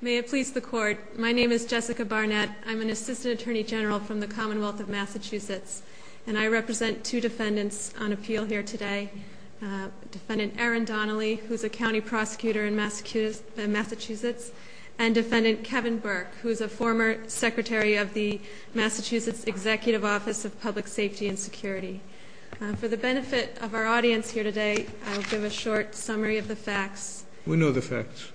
May it please the Court, my name is Jessica Barnett. I'm an Assistant Attorney General from the Commonwealth of Massachusetts, and I represent two defendants on appeal here today. Defendant Aaron Donnelly, who is a County Prosecutor in Massachusetts, and Defendant Kevin Burke, who is a former Secretary of the Massachusetts Executive Office of Public Safety and Security. For the benefit of our audience here today, I will give a short summary of the facts. We know the facts.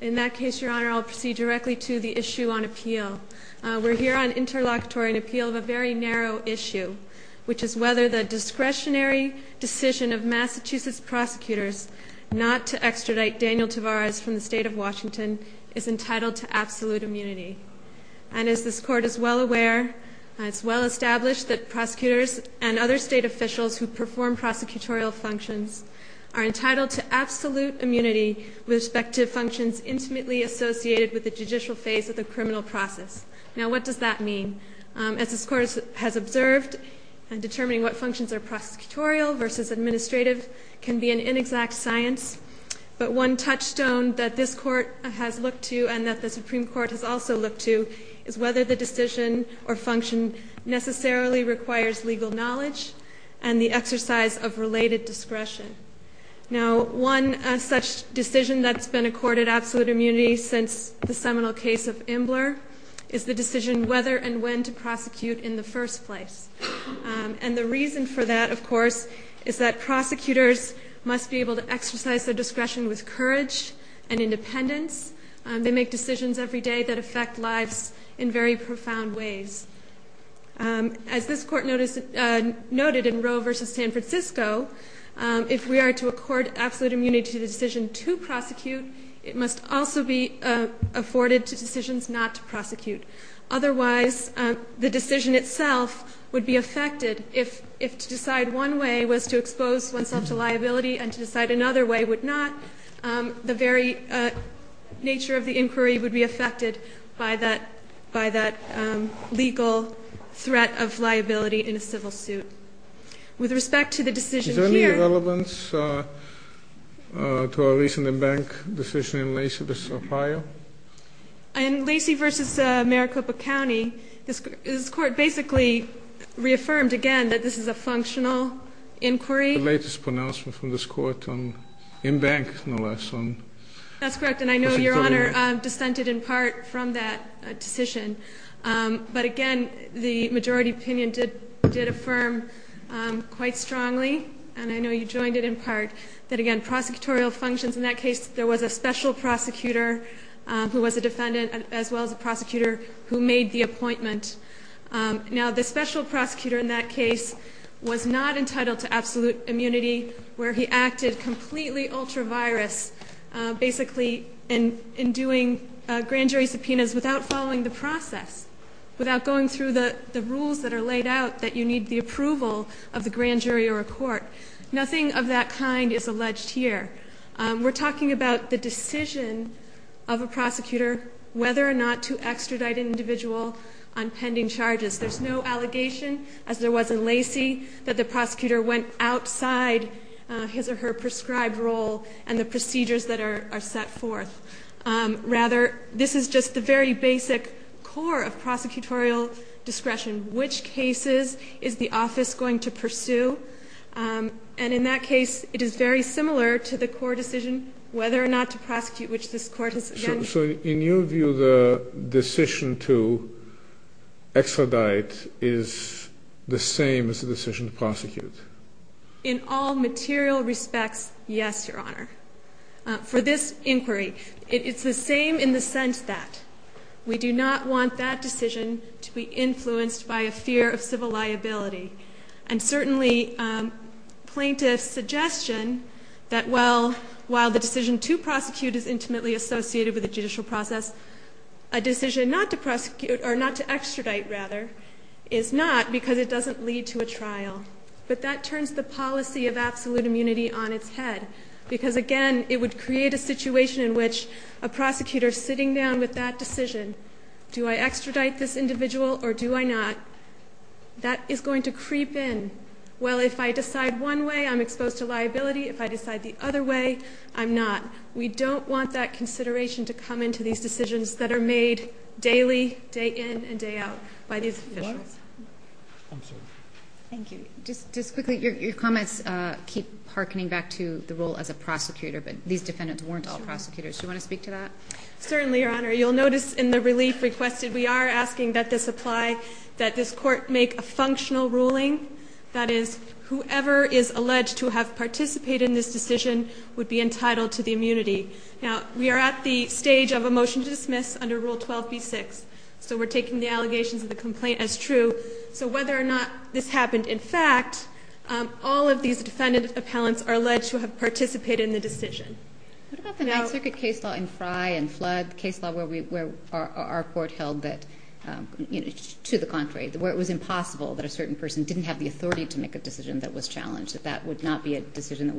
In that case, Your Honor, I'll proceed directly to the issue on appeal. We're here on interlocutory appeal of a very narrow issue, which is whether the discretionary decision of Massachusetts prosecutors not to extradite Daniel Tavares from the State of Washington is entitled to absolute immunity. And as this Court is well aware, it's well established that prosecutors and other State officials who perform prosecutorial functions are entitled to absolute immunity with respect to functions intimately associated with the judicial phase of the criminal process. Now, what does that mean? As this Court has observed, determining what functions are prosecutorial versus administrative can be an inexact science. But one touchstone that this Court has looked to and that the Supreme Court has also looked to is whether the decision or function necessarily requires legal knowledge and the exercise of related discretion. Now, one such decision that's been accorded absolute immunity since the seminal case of Imbler is the decision whether and when to prosecute in the first place. And the reason for that, of course, is that prosecutors must be able to exercise their discretion with courage and independence. They make decisions every day that affect lives in very profound ways. As this Court noted in Roe v. San Francisco, if we are to accord absolute immunity to the decision to prosecute, it must also be afforded to decisions not to prosecute. Otherwise, the decision itself would be affected if to decide one way was to expose oneself to liability and to decide another way would not. The very nature of the inquiry would be affected by that legal threat of liability in a civil suit. With respect to the decision here — Is there any relevance to a recent bank decision in Lacey v. O'Farrill? In Lacey v. Maricopa County, this Court basically reaffirmed, again, that this is a functional inquiry. The latest pronouncement from this Court on Imbank, no less. That's correct. And I know Your Honor dissented in part from that decision. But, again, the majority opinion did affirm quite strongly, and I know you joined it in part, that, again, prosecutorial functions. In that case, there was a special prosecutor who was a defendant, as well as a prosecutor who made the appointment. Now, the special prosecutor in that case was not entitled to absolute immunity where he acted completely ultra-virus, basically, in doing grand jury subpoenas without following the process, without going through the rules that are laid out that you need the approval of the grand jury or a court. Nothing of that kind is alleged here. We're talking about the decision of a prosecutor whether or not to extradite an individual on pending charges. There's no allegation, as there was in Lacey, that the prosecutor went outside his or her prescribed role and the procedures that are set forth. Rather, this is just the very basic core of prosecutorial discretion, which cases is the office going to pursue. And in that case, it is very similar to the court decision whether or not to prosecute, which this court has, again... So, in your view, the decision to extradite is the same as the decision to prosecute? In all material respects, yes, Your Honor. For this inquiry, it's the same in the sense that we do not want that decision to be influenced by a fear of civil liability. And certainly, plaintiff's suggestion that while the decision to prosecute is intimately associated with the judicial process, a decision not to extradite is not because it doesn't lead to a trial. But that turns the policy of absolute immunity on its head because, again, it would create a situation in which a prosecutor sitting down with that decision, do I extradite this individual or do I not, that is going to creep in. Well, if I decide one way, I'm exposed to liability. If I decide the other way, I'm not. We don't want that consideration to come into these decisions that are made daily, day in and day out by these officials. I'm sorry. Thank you. Just quickly, your comments keep hearkening back to the role as a prosecutor, but these defendants weren't all prosecutors. Do you want to speak to that? Certainly, Your Honor. You'll notice in the relief requested, we are asking that this apply, that this court make a functional ruling. That is, whoever is alleged to have participated in this decision would be entitled to the immunity. Now, we are at the stage of a motion to dismiss under Rule 12b-6, so we're taking the allegations of the complaint as true. So whether or not this happened in fact, all of these defendant appellants are alleged to have participated in the decision. What about the Ninth Circuit case law in Frye and Flood, the case law where our court held that, to the contrary, where it was impossible that a certain person didn't have the authority to make a decision that was challenged, that that would not be a decision that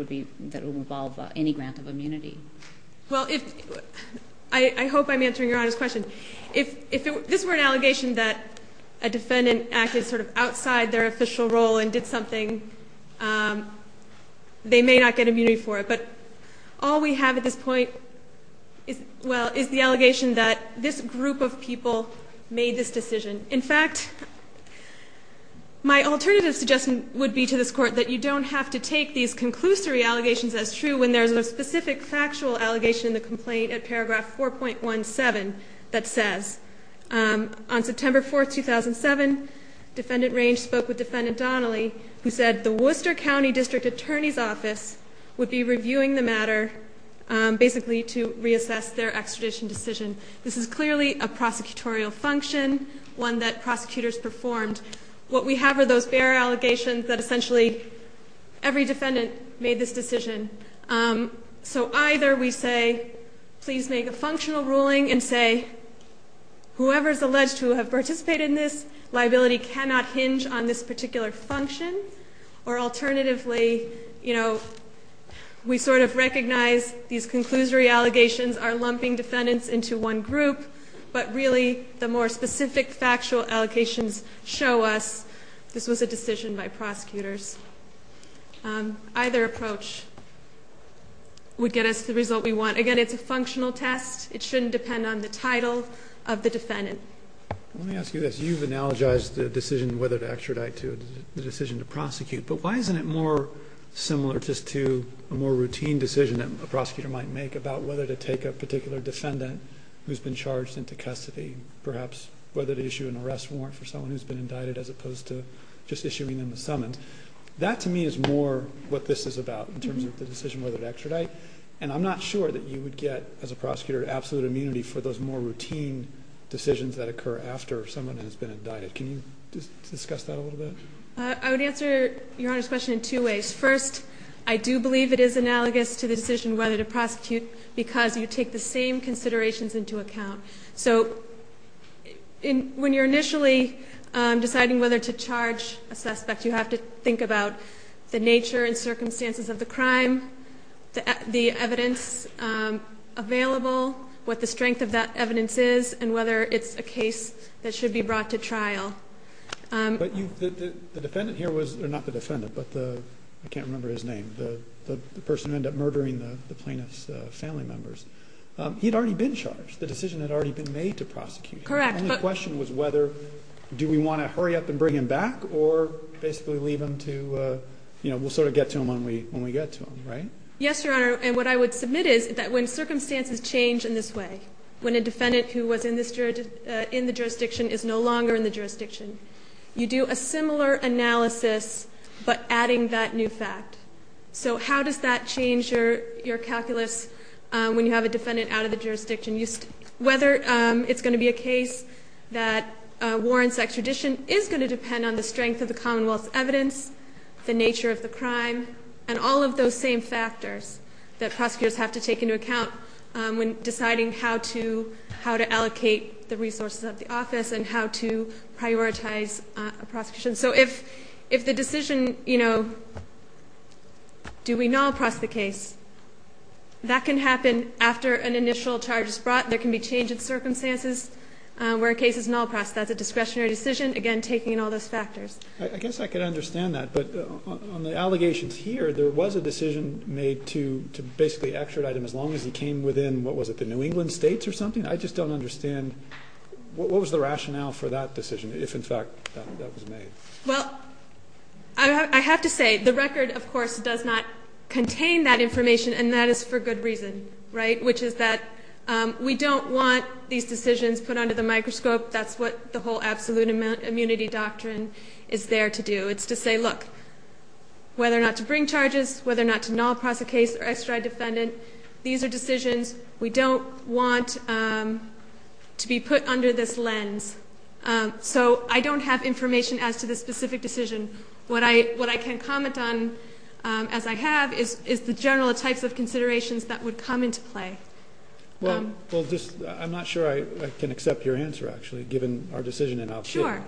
would involve any grant of immunity? Well, I hope I'm answering Your Honor's question. If this were an allegation that a defendant acted sort of outside their official role and did something, they may not get immunity for it. But all we have at this point is the allegation that this group of people made this decision. In fact, my alternative suggestion would be to this Court that you don't have to take these conclusory allegations as true when there's a specific factual allegation in the complaint at paragraph 4.17 that says, On September 4, 2007, Defendant Range spoke with Defendant Donnelly, who said the Worcester County District Attorney's Office would be reviewing the matter basically to reassess their extradition decision. This is clearly a prosecutorial function, one that prosecutors performed. What we have are those bare allegations that essentially every defendant made this decision. So either we say, please make a functional ruling and say, whoever is alleged to have participated in this liability cannot hinge on this particular function, or alternatively, you know, we sort of recognize these conclusory allegations are lumping defendants into one group, but really the more specific factual allegations show us this was a decision by prosecutors. Either approach would get us the result we want. Again, it's a functional test. It shouldn't depend on the title of the defendant. Let me ask you this. You've analogized the decision whether to extradite to the decision to prosecute, but why isn't it more similar just to a more routine decision that a prosecutor might make about whether to take a particular defendant who's been charged into custody, perhaps whether to issue an arrest warrant for someone who's been indicted as opposed to just issuing them a summons? That to me is more what this is about in terms of the decision whether to extradite, and I'm not sure that you would get, as a prosecutor, absolute immunity for those more routine decisions that occur after someone has been indicted. Can you discuss that a little bit? I would answer Your Honor's question in two ways. First, I do believe it is analogous to the decision whether to prosecute because you take the same considerations into account. So when you're initially deciding whether to charge a suspect, you have to think about the nature and circumstances of the crime, the evidence available, what the strength of that evidence is, and whether it's a case that should be brought to trial. But the defendant here was, or not the defendant, but I can't remember his name, the person who ended up murdering the plaintiff's family members. He had already been charged. The decision had already been made to prosecute him. The only question was whether do we want to hurry up and bring him back or basically leave him to, you know, we'll sort of get to him when we get to him, right? Yes, Your Honor, and what I would submit is that when circumstances change in this way, when a defendant who was in the jurisdiction is no longer in the jurisdiction, you do a similar analysis but adding that new fact. So how does that change your calculus when you have a defendant out of the jurisdiction? Whether it's going to be a case that warrants extradition is going to depend on the strength of the Commonwealth's evidence, the nature of the crime, and all of those same factors that prosecutors have to take into account when deciding how to allocate the resources of the office and how to prioritize a prosecution. So if the decision, you know, do we null press the case, that can happen after an initial charge is brought. There can be change in circumstances where a case is null pressed. That's a discretionary decision, again, taking in all those factors. I guess I could understand that, but on the allegations here, there was a decision made to basically extradite him as long as he came within, what was it, the New England states or something? I just don't understand what was the rationale for that decision if, in fact, that was made? Well, I have to say the record, of course, does not contain that information, and that is for good reason, right, which is that we don't want these decisions put under the microscope. That's what the whole absolute immunity doctrine is there to do. It's to say, look, whether or not to bring charges, whether or not to null press a case or extradite a defendant, these are decisions we don't want to be put under this lens. So I don't have information as to the specific decision. What I can comment on, as I have, is the general types of considerations that would come into play. Well, I'm not sure I can accept your answer, actually, given our decision in outfit. Sure.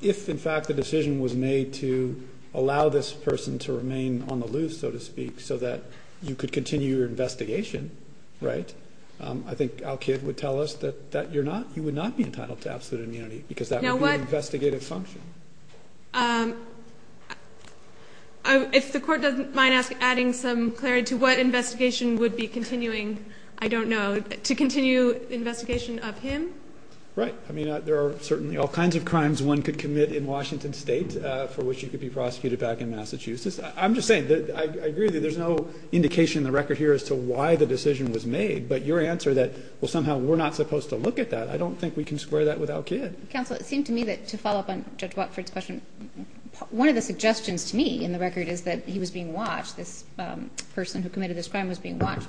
If, in fact, the decision was made to allow this person to remain on the loose, so to speak, so that you could continue your investigation, right, I think Al-Kid would tell us that you're not, you would not be entitled to absolute immunity because that would be an investigative function. If the Court doesn't mind adding some clarity to what investigation would be continuing, I don't know, to continue investigation of him? Right. I mean, there are certainly all kinds of crimes one could commit in Washington State for which you could be prosecuted back in Massachusetts. I'm just saying that I agree that there's no indication in the record here as to why the decision was made, but your answer that, well, somehow we're not supposed to look at that, I don't think we can square that with Al-Kid. Counsel, it seemed to me that, to follow up on Judge Watford's question, one of the suggestions to me in the record is that he was being watched, this person who committed this crime was being watched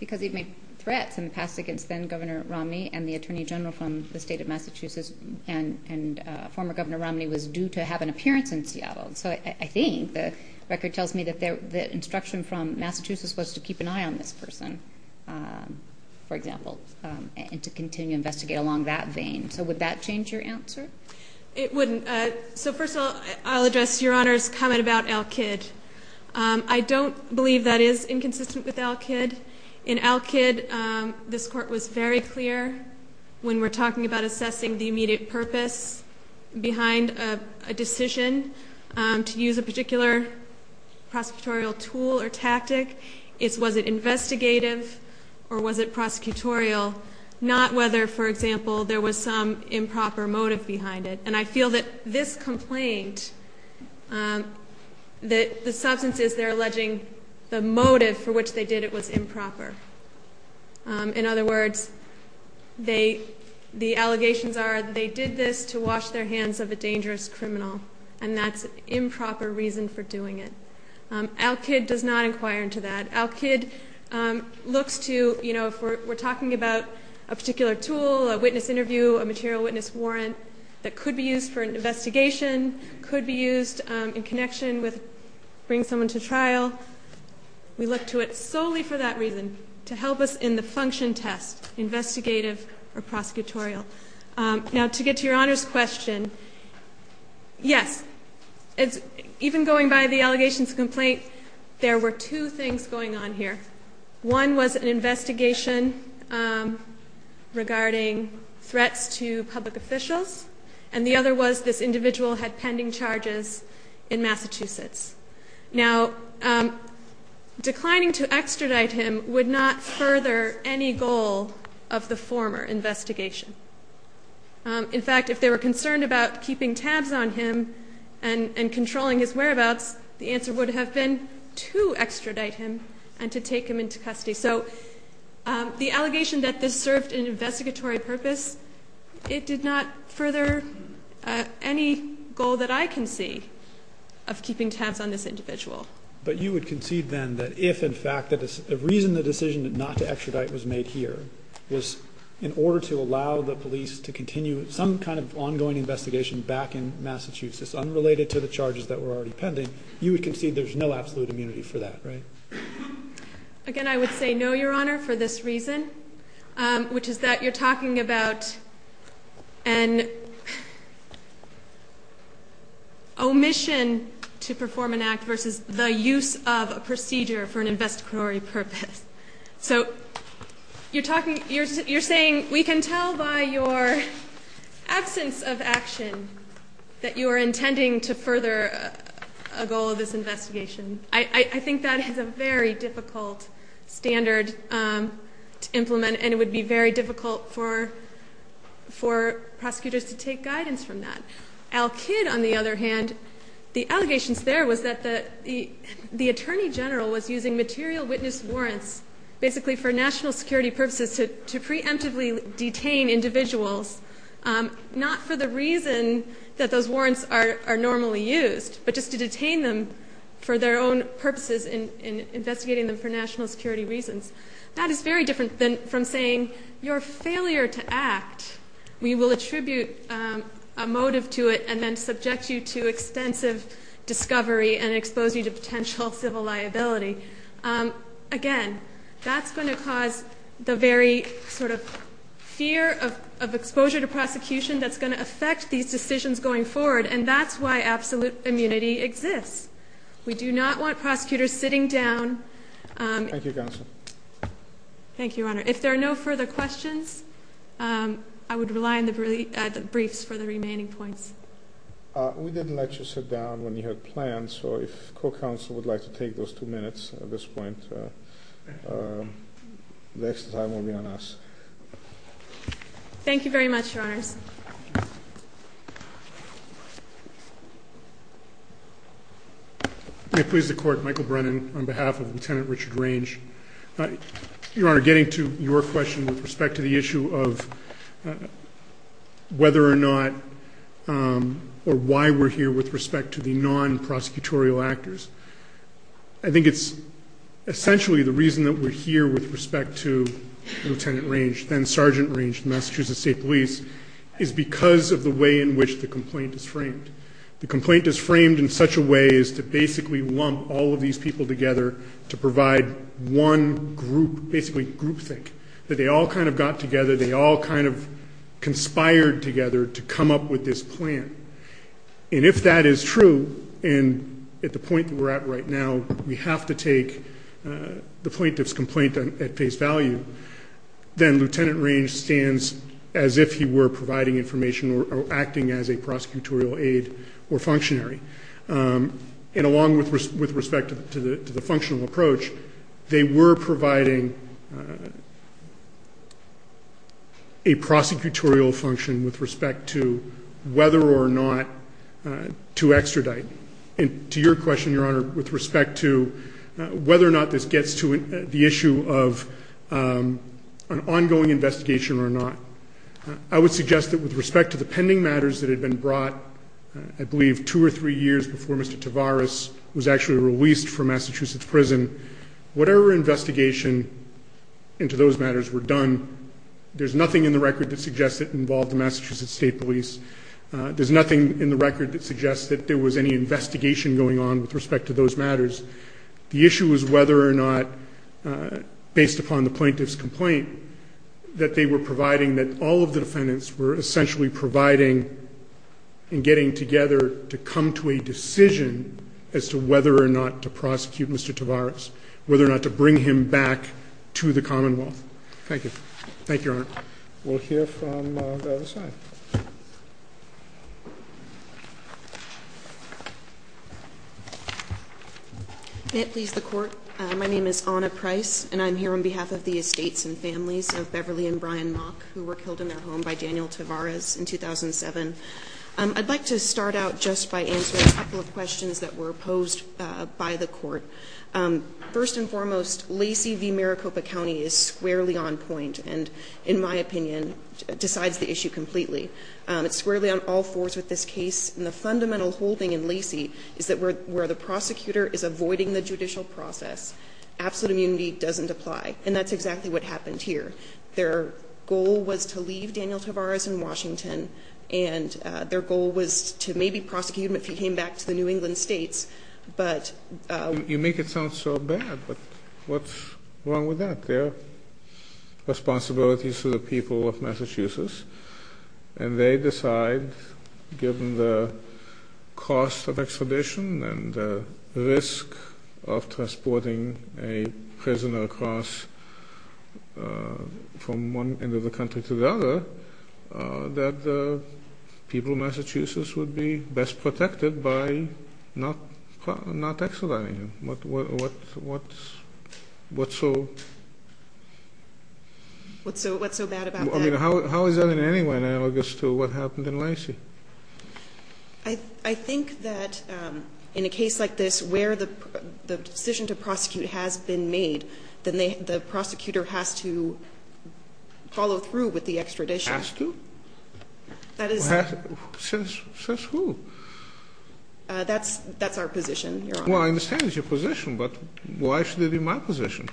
because he'd made threats in the past against then-Governor Romney and the Attorney General from the State of Massachusetts, So I think the record tells me that the instruction from Massachusetts was to keep an eye on this person, for example, and to continue to investigate along that vein. So would that change your answer? It wouldn't. So first of all, I'll address Your Honor's comment about Al-Kid. I don't believe that is inconsistent with Al-Kid. In Al-Kid, this Court was very clear when we're talking about assessing the immediate purpose behind a decision. To use a particular prosecutorial tool or tactic, was it investigative or was it prosecutorial, not whether, for example, there was some improper motive behind it. And I feel that this complaint, the substance is they're alleging the motive for which they did it was improper. In other words, the allegations are they did this to wash their hands of a dangerous criminal and that's improper reason for doing it. Al-Kid does not inquire into that. Al-Kid looks to, you know, if we're talking about a particular tool, a witness interview, a material witness warrant that could be used for an investigation, could be used in connection with bringing someone to trial, we look to it solely for that reason, to help us in the function test, investigative or prosecutorial. Now, to get to Your Honor's question, yes, even going by the allegations complaint, there were two things going on here. One was an investigation regarding threats to public officials, and the other was this individual had pending charges in Massachusetts. Now, declining to extradite him would not further any goal of the former investigation. In fact, if they were concerned about keeping tabs on him and controlling his whereabouts, the answer would have been to extradite him and to take him into custody. So the allegation that this served an investigatory purpose, it did not further any goal that I can see of keeping tabs on this individual. But you would concede then that if, in fact, the reason the decision not to extradite was made here was in order to allow the police to continue some kind of ongoing investigation back in Massachusetts unrelated to the charges that were already pending, you would concede there's no absolute immunity for that, right? Again, I would say no, Your Honor, for this reason, which is that you're talking about an omission to perform an act versus the use of a procedure for an investigatory purpose. So you're talking, you're saying we can tell by your absence of action that you are intending to further a goal of this investigation. I think that is a very difficult standard to implement, and it would be very difficult for prosecutors to take guidance from that. Al Kidd, on the other hand, the allegations there was that the Attorney General was using material witness warrants, basically for national security purposes, to preemptively detain individuals, not for the reason that those warrants are normally used, but just to detain them for their own purposes in investigating them for national security reasons. That is very different from saying your failure to act, we will attribute a motive to it and then subject you to extensive discovery and expose you to potential civil liability. Again, that's going to cause the very sort of fear of exposure to prosecution that's going to affect these decisions going forward, and that's why absolute immunity exists. We do not want prosecutors sitting down. Thank you, Counsel. Thank you, Your Honor. If there are no further questions, I would rely on the briefs for the remaining points. We didn't let you sit down when you had plans, so if co-counsel would like to take those two minutes at this point, the rest of the time will be on us. Thank you very much, Your Honors. May it please the Court, Michael Brennan on behalf of Lieutenant Richard Range. Your Honor, getting to your question with respect to the issue of whether or not or why we're here with respect to the non-prosecutorial actors, I think it's essentially the reason that we're here with respect to Lieutenant Range, then Sergeant Range, Massachusetts State Police, is because of the way in which the complaint is framed. The complaint is framed in such a way as to basically lump all of these people together to provide one group, basically groupthink, that they all kind of got together, they all kind of conspired together to come up with this plan. And if that is true, and at the point that we're at right now, we have to take the plaintiff's complaint at face value, then Lieutenant Range stands as if he were providing information or acting as a prosecutorial aide or functionary. And along with respect to the functional approach, they were providing a prosecutorial function with respect to whether or not to extradite. To your question, Your Honor, with respect to whether or not this gets to the issue of an ongoing investigation or not, I would suggest that with respect to the pending matters that had been brought, I believe two or three years before Mr. Tavares was actually released from Massachusetts prison, whatever investigation into those matters were done, there's nothing in the record that suggests it involved the Massachusetts State Police. There's nothing in the record that suggests that there was any investigation going on with respect to those matters. The issue is whether or not, based upon the plaintiff's complaint, that they were providing that all of the defendants were essentially providing and getting together to come to a decision as to whether or not to prosecute Mr. Tavares, whether or not to bring him back to the Commonwealth. Thank you. Thank you, Your Honor. We'll hear from the other side. May it please the Court. My name is Ana Price, and I'm here on behalf of the estates and families of Beverly and Brian Mock, who were killed in their home by Daniel Tavares in 2007. I'd like to start out just by answering a couple of questions that were posed by the Court. First and foremost, Lacey v. Maricopa County is squarely on point. And in my opinion, decides the issue completely. It's squarely on all fours with this case. And the fundamental holding in Lacey is that where the prosecutor is avoiding the judicial process, absolute immunity doesn't apply. And that's exactly what happened here. Their goal was to leave Daniel Tavares in Washington, and their goal was to maybe prosecute him if he came back to the New England states. But you make it sound so bad. But what's wrong with that? They take their responsibilities to the people of Massachusetts, and they decide, given the cost of extradition and the risk of transporting a prisoner across from one end of the country to the other, that the people of Massachusetts would be best protected by not extraditing him. What's so bad about that? I mean, how is that in any way analogous to what happened in Lacey? I think that in a case like this where the decision to prosecute has been made, then the prosecutor has to follow through with the extradition. Has to? Says who? That's our position, Your Honor. Well, I understand it's your position, but why should it be my position?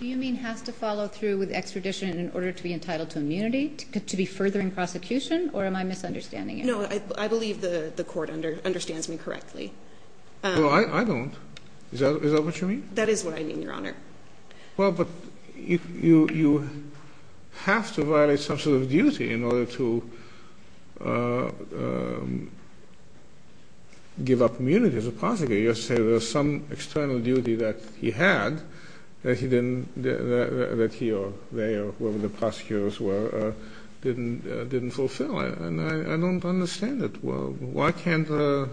Do you mean has to follow through with extradition in order to be entitled to immunity, to be further in prosecution, or am I misunderstanding you? No, I believe the court understands me correctly. Well, I don't. Is that what you mean? That is what I mean, Your Honor. Well, but you have to violate some sort of duty in order to give up immunity as a prosecutor. You say there's some external duty that he had that he or they or whoever the prosecutors were didn't fulfill, and I don't understand it. Why can't the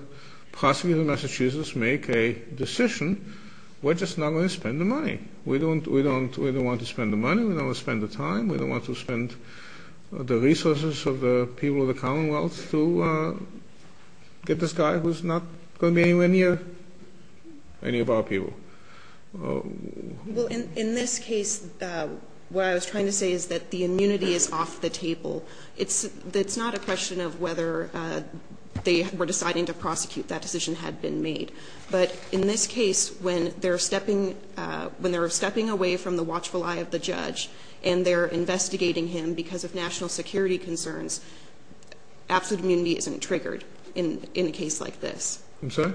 prosecutor of Massachusetts make a decision? We're just not going to spend the money. We don't want to spend the money. We don't want to spend the time. We don't want to spend the resources of the people of the commonwealth to get this guy who's not going to be anywhere near any of our people. Well, in this case, what I was trying to say is that the immunity is off the table. It's not a question of whether they were deciding to prosecute, that decision had been made. But in this case, when they're stepping away from the watchful eye of the judge and they're investigating him because of national security concerns, absolute immunity isn't triggered in a case like this. I'm sorry?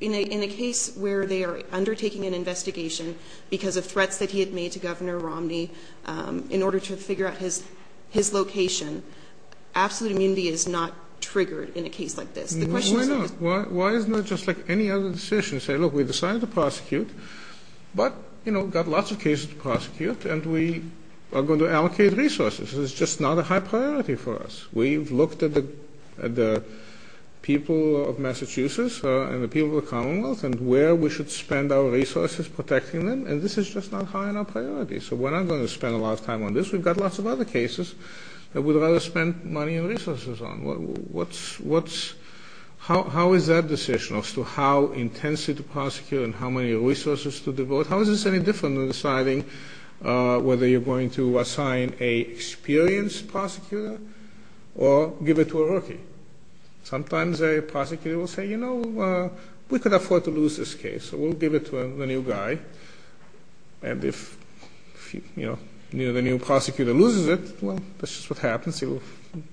In a case where they are undertaking an investigation because of threats that he had made to Governor Romney in order to figure out his location, absolute immunity is not triggered in a case like this. Why not? Why isn't it just like any other decision? Say, look, we decided to prosecute, but, you know, got lots of cases to prosecute, and we are going to allocate resources. It's just not a high priority for us. We've looked at the people of Massachusetts and the people of the commonwealth and where we should spend our resources protecting them, and this is just not high enough priority. So we're not going to spend a lot of time on this. We've got lots of other cases that we'd rather spend money and resources on. How is that decision as to how intensely to prosecute and how many resources to devote, how is this any different than deciding whether you're going to assign an experienced prosecutor or give it to a rookie? Sometimes a prosecutor will say, you know, we could afford to lose this case, so we'll give it to the new guy. And if, you know, the new prosecutor loses it, well, that's just what happens. He will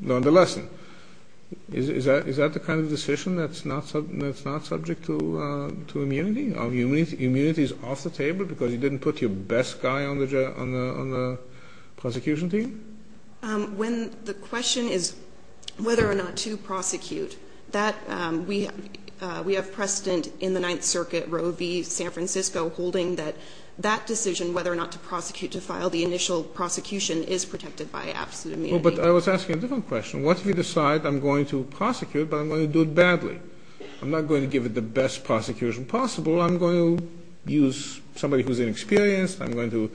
learn the lesson. Is that the kind of decision that's not subject to immunity? Are immunities off the table because you didn't put your best guy on the prosecution team? When the question is whether or not to prosecute, we have precedent in the Ninth Circuit, Roe v. San Francisco, holding that that decision whether or not to prosecute to file the initial prosecution is protected by absolute immunity. Well, but I was asking a different question. What if we decide I'm going to prosecute, but I'm going to do it badly? I'm not going to give it the best prosecution possible. I'm going to use somebody who's inexperienced. I'm going to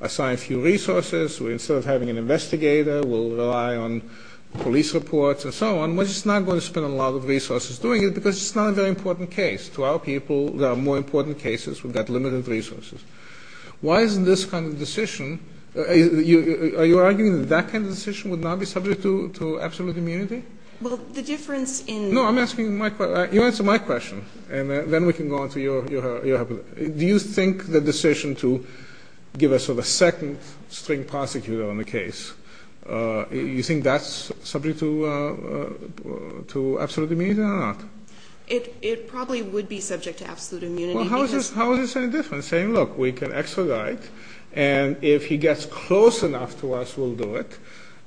assign a few resources. Instead of having an investigator, we'll rely on police reports and so on. We're just not going to spend a lot of resources doing it because it's not a very important case. To our people, there are more important cases. We've got limited resources. Why isn't this kind of decision? Are you arguing that that kind of decision would not be subject to absolute immunity? Well, the difference in the – No, I'm asking my question. You answer my question, and then we can go on to your – Do you think the decision to give a sort of second-string prosecutor on the case, you think that's subject to absolute immunity or not? It probably would be subject to absolute immunity because – Well, how is this any different? Saying, look, we can extradite, and if he gets close enough to us, we'll do it.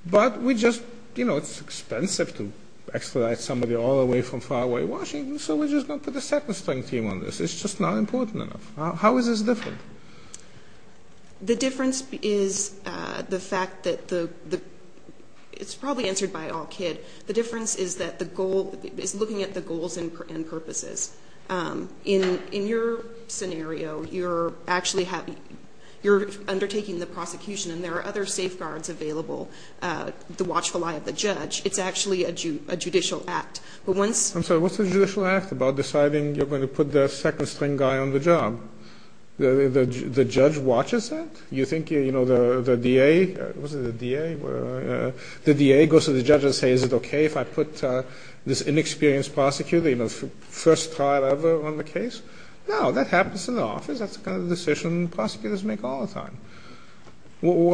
But we just – you know, it's expensive to extradite somebody all the way from far away Washington, so we're just going to put a second-string team on this. It's just not important enough. How is this different? The difference is the fact that the – it's probably answered by all kid. The difference is that the goal – is looking at the goals and purposes. In your scenario, you're actually – you're undertaking the prosecution, and there are other safeguards available to watchful eye of the judge. It's actually a judicial act. But once – I'm sorry, what's a judicial act about deciding you're going to put the second-string guy on the job? The judge watches that? You think, you know, the DA – was it the DA? The DA goes to the judge and says, is it okay if I put this inexperienced prosecutor, you know, first trial ever on the case? No, that happens in the office. That's the kind of decision prosecutors make all the time.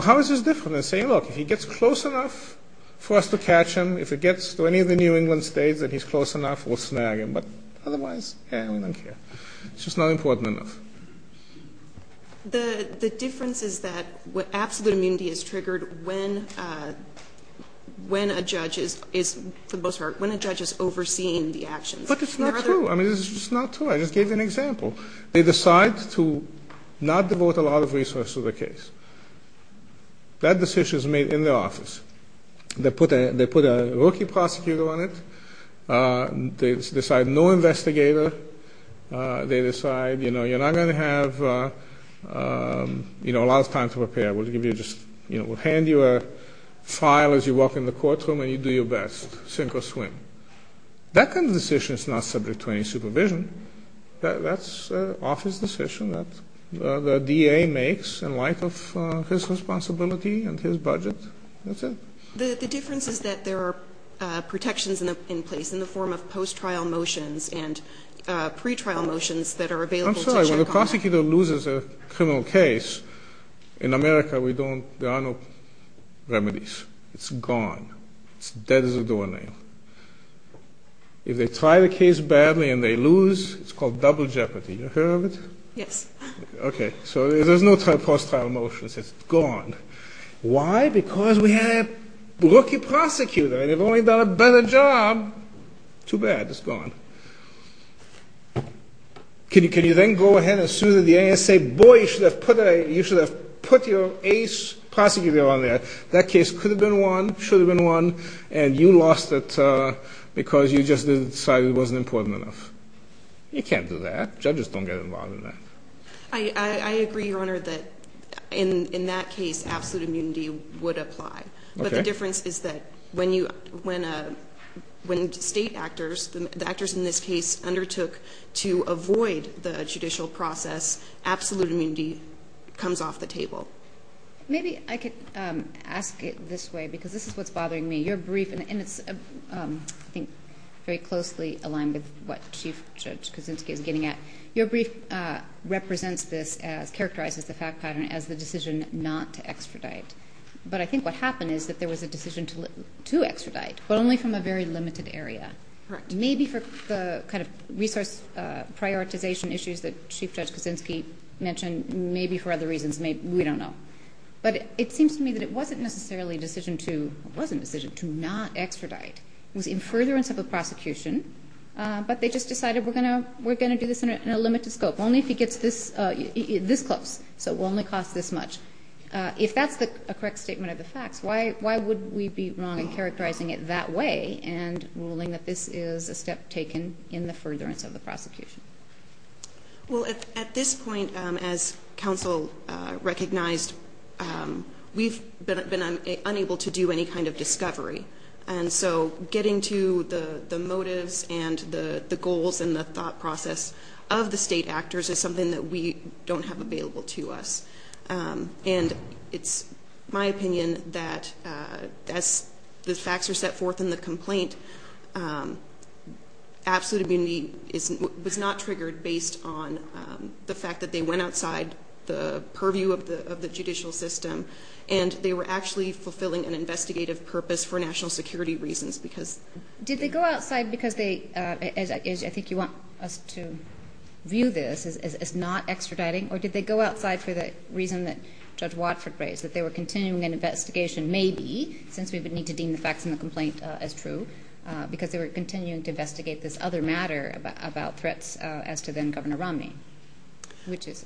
How is this different than saying, look, if he gets close enough for us to catch him, if it gets to any of the New England states that he's close enough, we'll snag him. But otherwise, eh, we don't care. It's just not important enough. The difference is that absolute immunity is triggered when a judge is – for the most part, when a judge is overseeing the actions. But it's not true. I mean, it's just not true. I just gave you an example. They decide to not devote a lot of resources to the case. That decision is made in the office. They put a rookie prosecutor on it. They decide no investigator. They decide, you know, you're not going to have, you know, a lot of time to prepare. We'll give you just – you know, we'll hand you a file as you walk in the courtroom and you do your best, sink or swim. That kind of decision is not subject to any supervision. That's an office decision that the DA makes in light of his responsibility and his budget. That's it. The difference is that there are protections in place in the form of post-trial motions and pre-trial motions that are available to judge. I'm sorry. When a prosecutor loses a criminal case, in America we don't – there are no remedies. It's gone. It's dead as a doornail. If they try the case badly and they lose, it's called double jeopardy. You've heard of it? Yes. Okay. So there's no post-trial motions. It's gone. Why? Because we had a rookie prosecutor and they've only done a better job. Too bad. It's gone. Can you then go ahead and sue the DA and say, boy, you should have put your ace prosecutor on there? That case could have been won, should have been won, and you lost it because you just decided it wasn't important enough. You can't do that. Judges don't get involved in that. I agree, Your Honor, that in that case absolute immunity would apply. But the difference is that when state actors, the actors in this case, undertook to avoid the judicial process, absolute immunity comes off the table. Maybe I could ask it this way because this is what's bothering me. Your brief, and it's, I think, very closely aligned with what Chief Judge Kuczynski is getting at. Your brief represents this as, characterizes the fact pattern as the decision not to extradite. But I think what happened is that there was a decision to extradite, but only from a very limited area. Correct. Maybe for the kind of resource prioritization issues that Chief Judge Kuczynski mentioned, maybe for other reasons, we don't know. But it seems to me that it wasn't necessarily a decision to, it wasn't a decision to not extradite. It was in furtherance of a prosecution, but they just decided we're going to do this in a limited scope. Only if he gets this close. So it will only cost this much. If that's a correct statement of the facts, why would we be wrong in characterizing it that way and ruling that this is a step taken in the furtherance of the prosecution? Well, at this point, as counsel recognized, we've been unable to do any kind of discovery. And so getting to the motives and the goals and the thought process of the state actors is something that we don't have available to us. And it's my opinion that as the facts are set forth in the complaint, absolute immunity was not triggered based on the fact that they went outside the purview of the judicial system and they were actually fulfilling an investigative purpose for national security reasons. Did they go outside because they, I think you want us to view this as not extraditing, or did they go outside for the reason that Judge Watford raised, that they were continuing an investigation, maybe, since we would need to deem the facts in the complaint as true, because they were continuing to investigate this other matter about threats as to then-Governor Romney? Which is?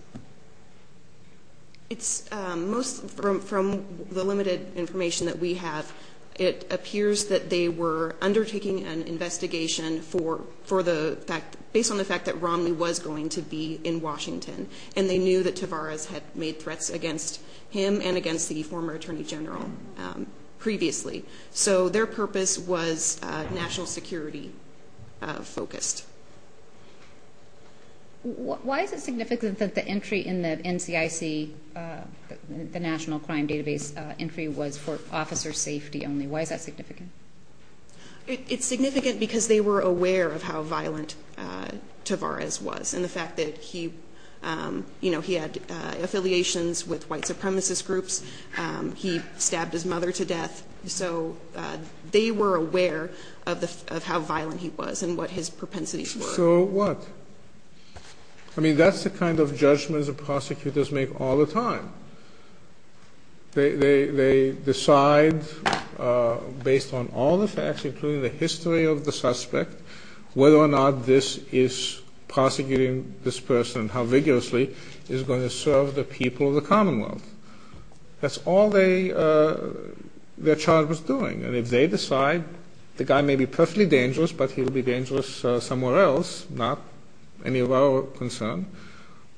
It's most, from the limited information that we have, it appears that they were undertaking an investigation for the fact, based on the fact that Romney was going to be in Washington, and they knew that Tavares had made threats against him and against the former Attorney General previously. So their purpose was national security-focused. Why is it significant that the entry in the NCIC, the National Crime Database entry, was for officer safety only? Why is that significant? It's significant because they were aware of how violent Tavares was, and the fact that he had affiliations with white supremacist groups. He stabbed his mother to death. So they were aware of how violent he was and what his propensities were. So what? I mean, that's the kind of judgments that prosecutors make all the time. They decide, based on all the facts, including the history of the suspect, whether or not this is prosecuting this person, and how vigorously it is going to serve the people of the Commonwealth. That's all their charge was doing. And if they decide the guy may be perfectly dangerous, but he will be dangerous somewhere else, not any of our concern,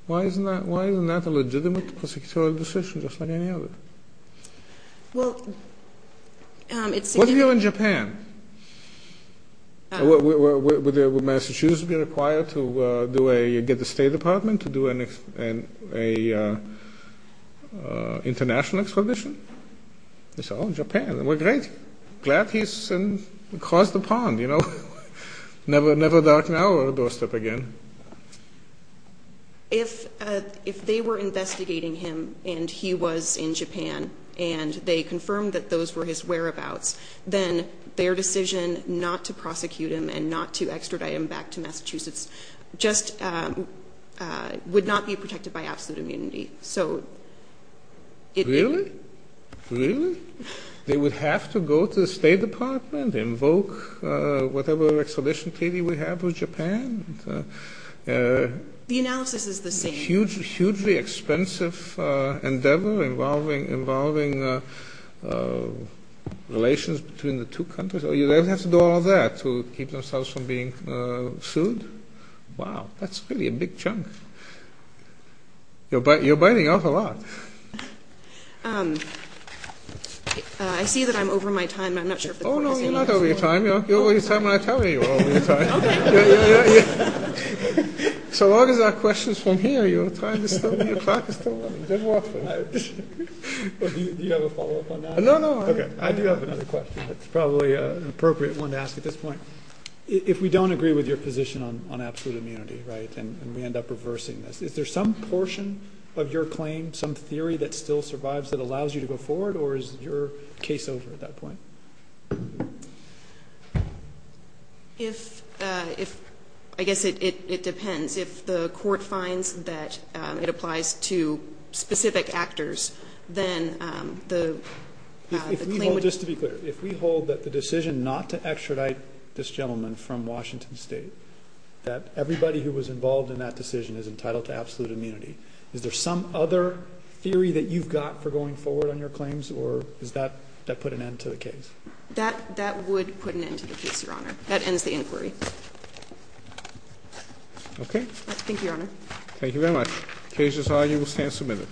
why isn't that a legitimate prosecutorial decision, just like any other? Well, it's significant. What if you're in Japan? Would Massachusetts be required to get the State Department to do an international expedition? They say, oh, Japan. We're great. Glad he's crossed the pond. Never darken our doorstep again. If they were investigating him and he was in Japan and they confirmed that those were his whereabouts, then their decision not to prosecute him and not to extradite him back to Massachusetts just would not be protected by absolute immunity. Really? Really? They would have to go to the State Department, invoke whatever expedition Katie would have with Japan? The analysis is the same. A hugely expensive endeavor involving relations between the two countries? Do they have to do all that to keep themselves from being sued? Wow. That's really a big chunk. You're biting off a lot. I see that I'm over my time. I'm not sure if this works. Oh, no, you're not over your time. You're over your time when I tell you you're over your time. Okay. So long as our question is from here, you're trying to stop me. Do you have a follow-up on that? No, no. I do have another question. It's probably an appropriate one to ask at this point. If we don't agree with your position on absolute immunity and we end up reversing this, is there some portion of your claim, some theory that still survives that allows you to go forward, or is your case over at that point? I guess it depends. If the court finds that it applies to specific actors, then the claim would be. Just to be clear, if we hold that the decision not to extradite this gentleman from Washington State, that everybody who was involved in that decision is entitled to absolute immunity, is there some other theory that you've got for going forward on your claims, or does that put an end to the case? That would put an end to the case, Your Honor. That ends the inquiry. Okay. Thank you, Your Honor. Thank you very much. The case is on. You will stand submitted.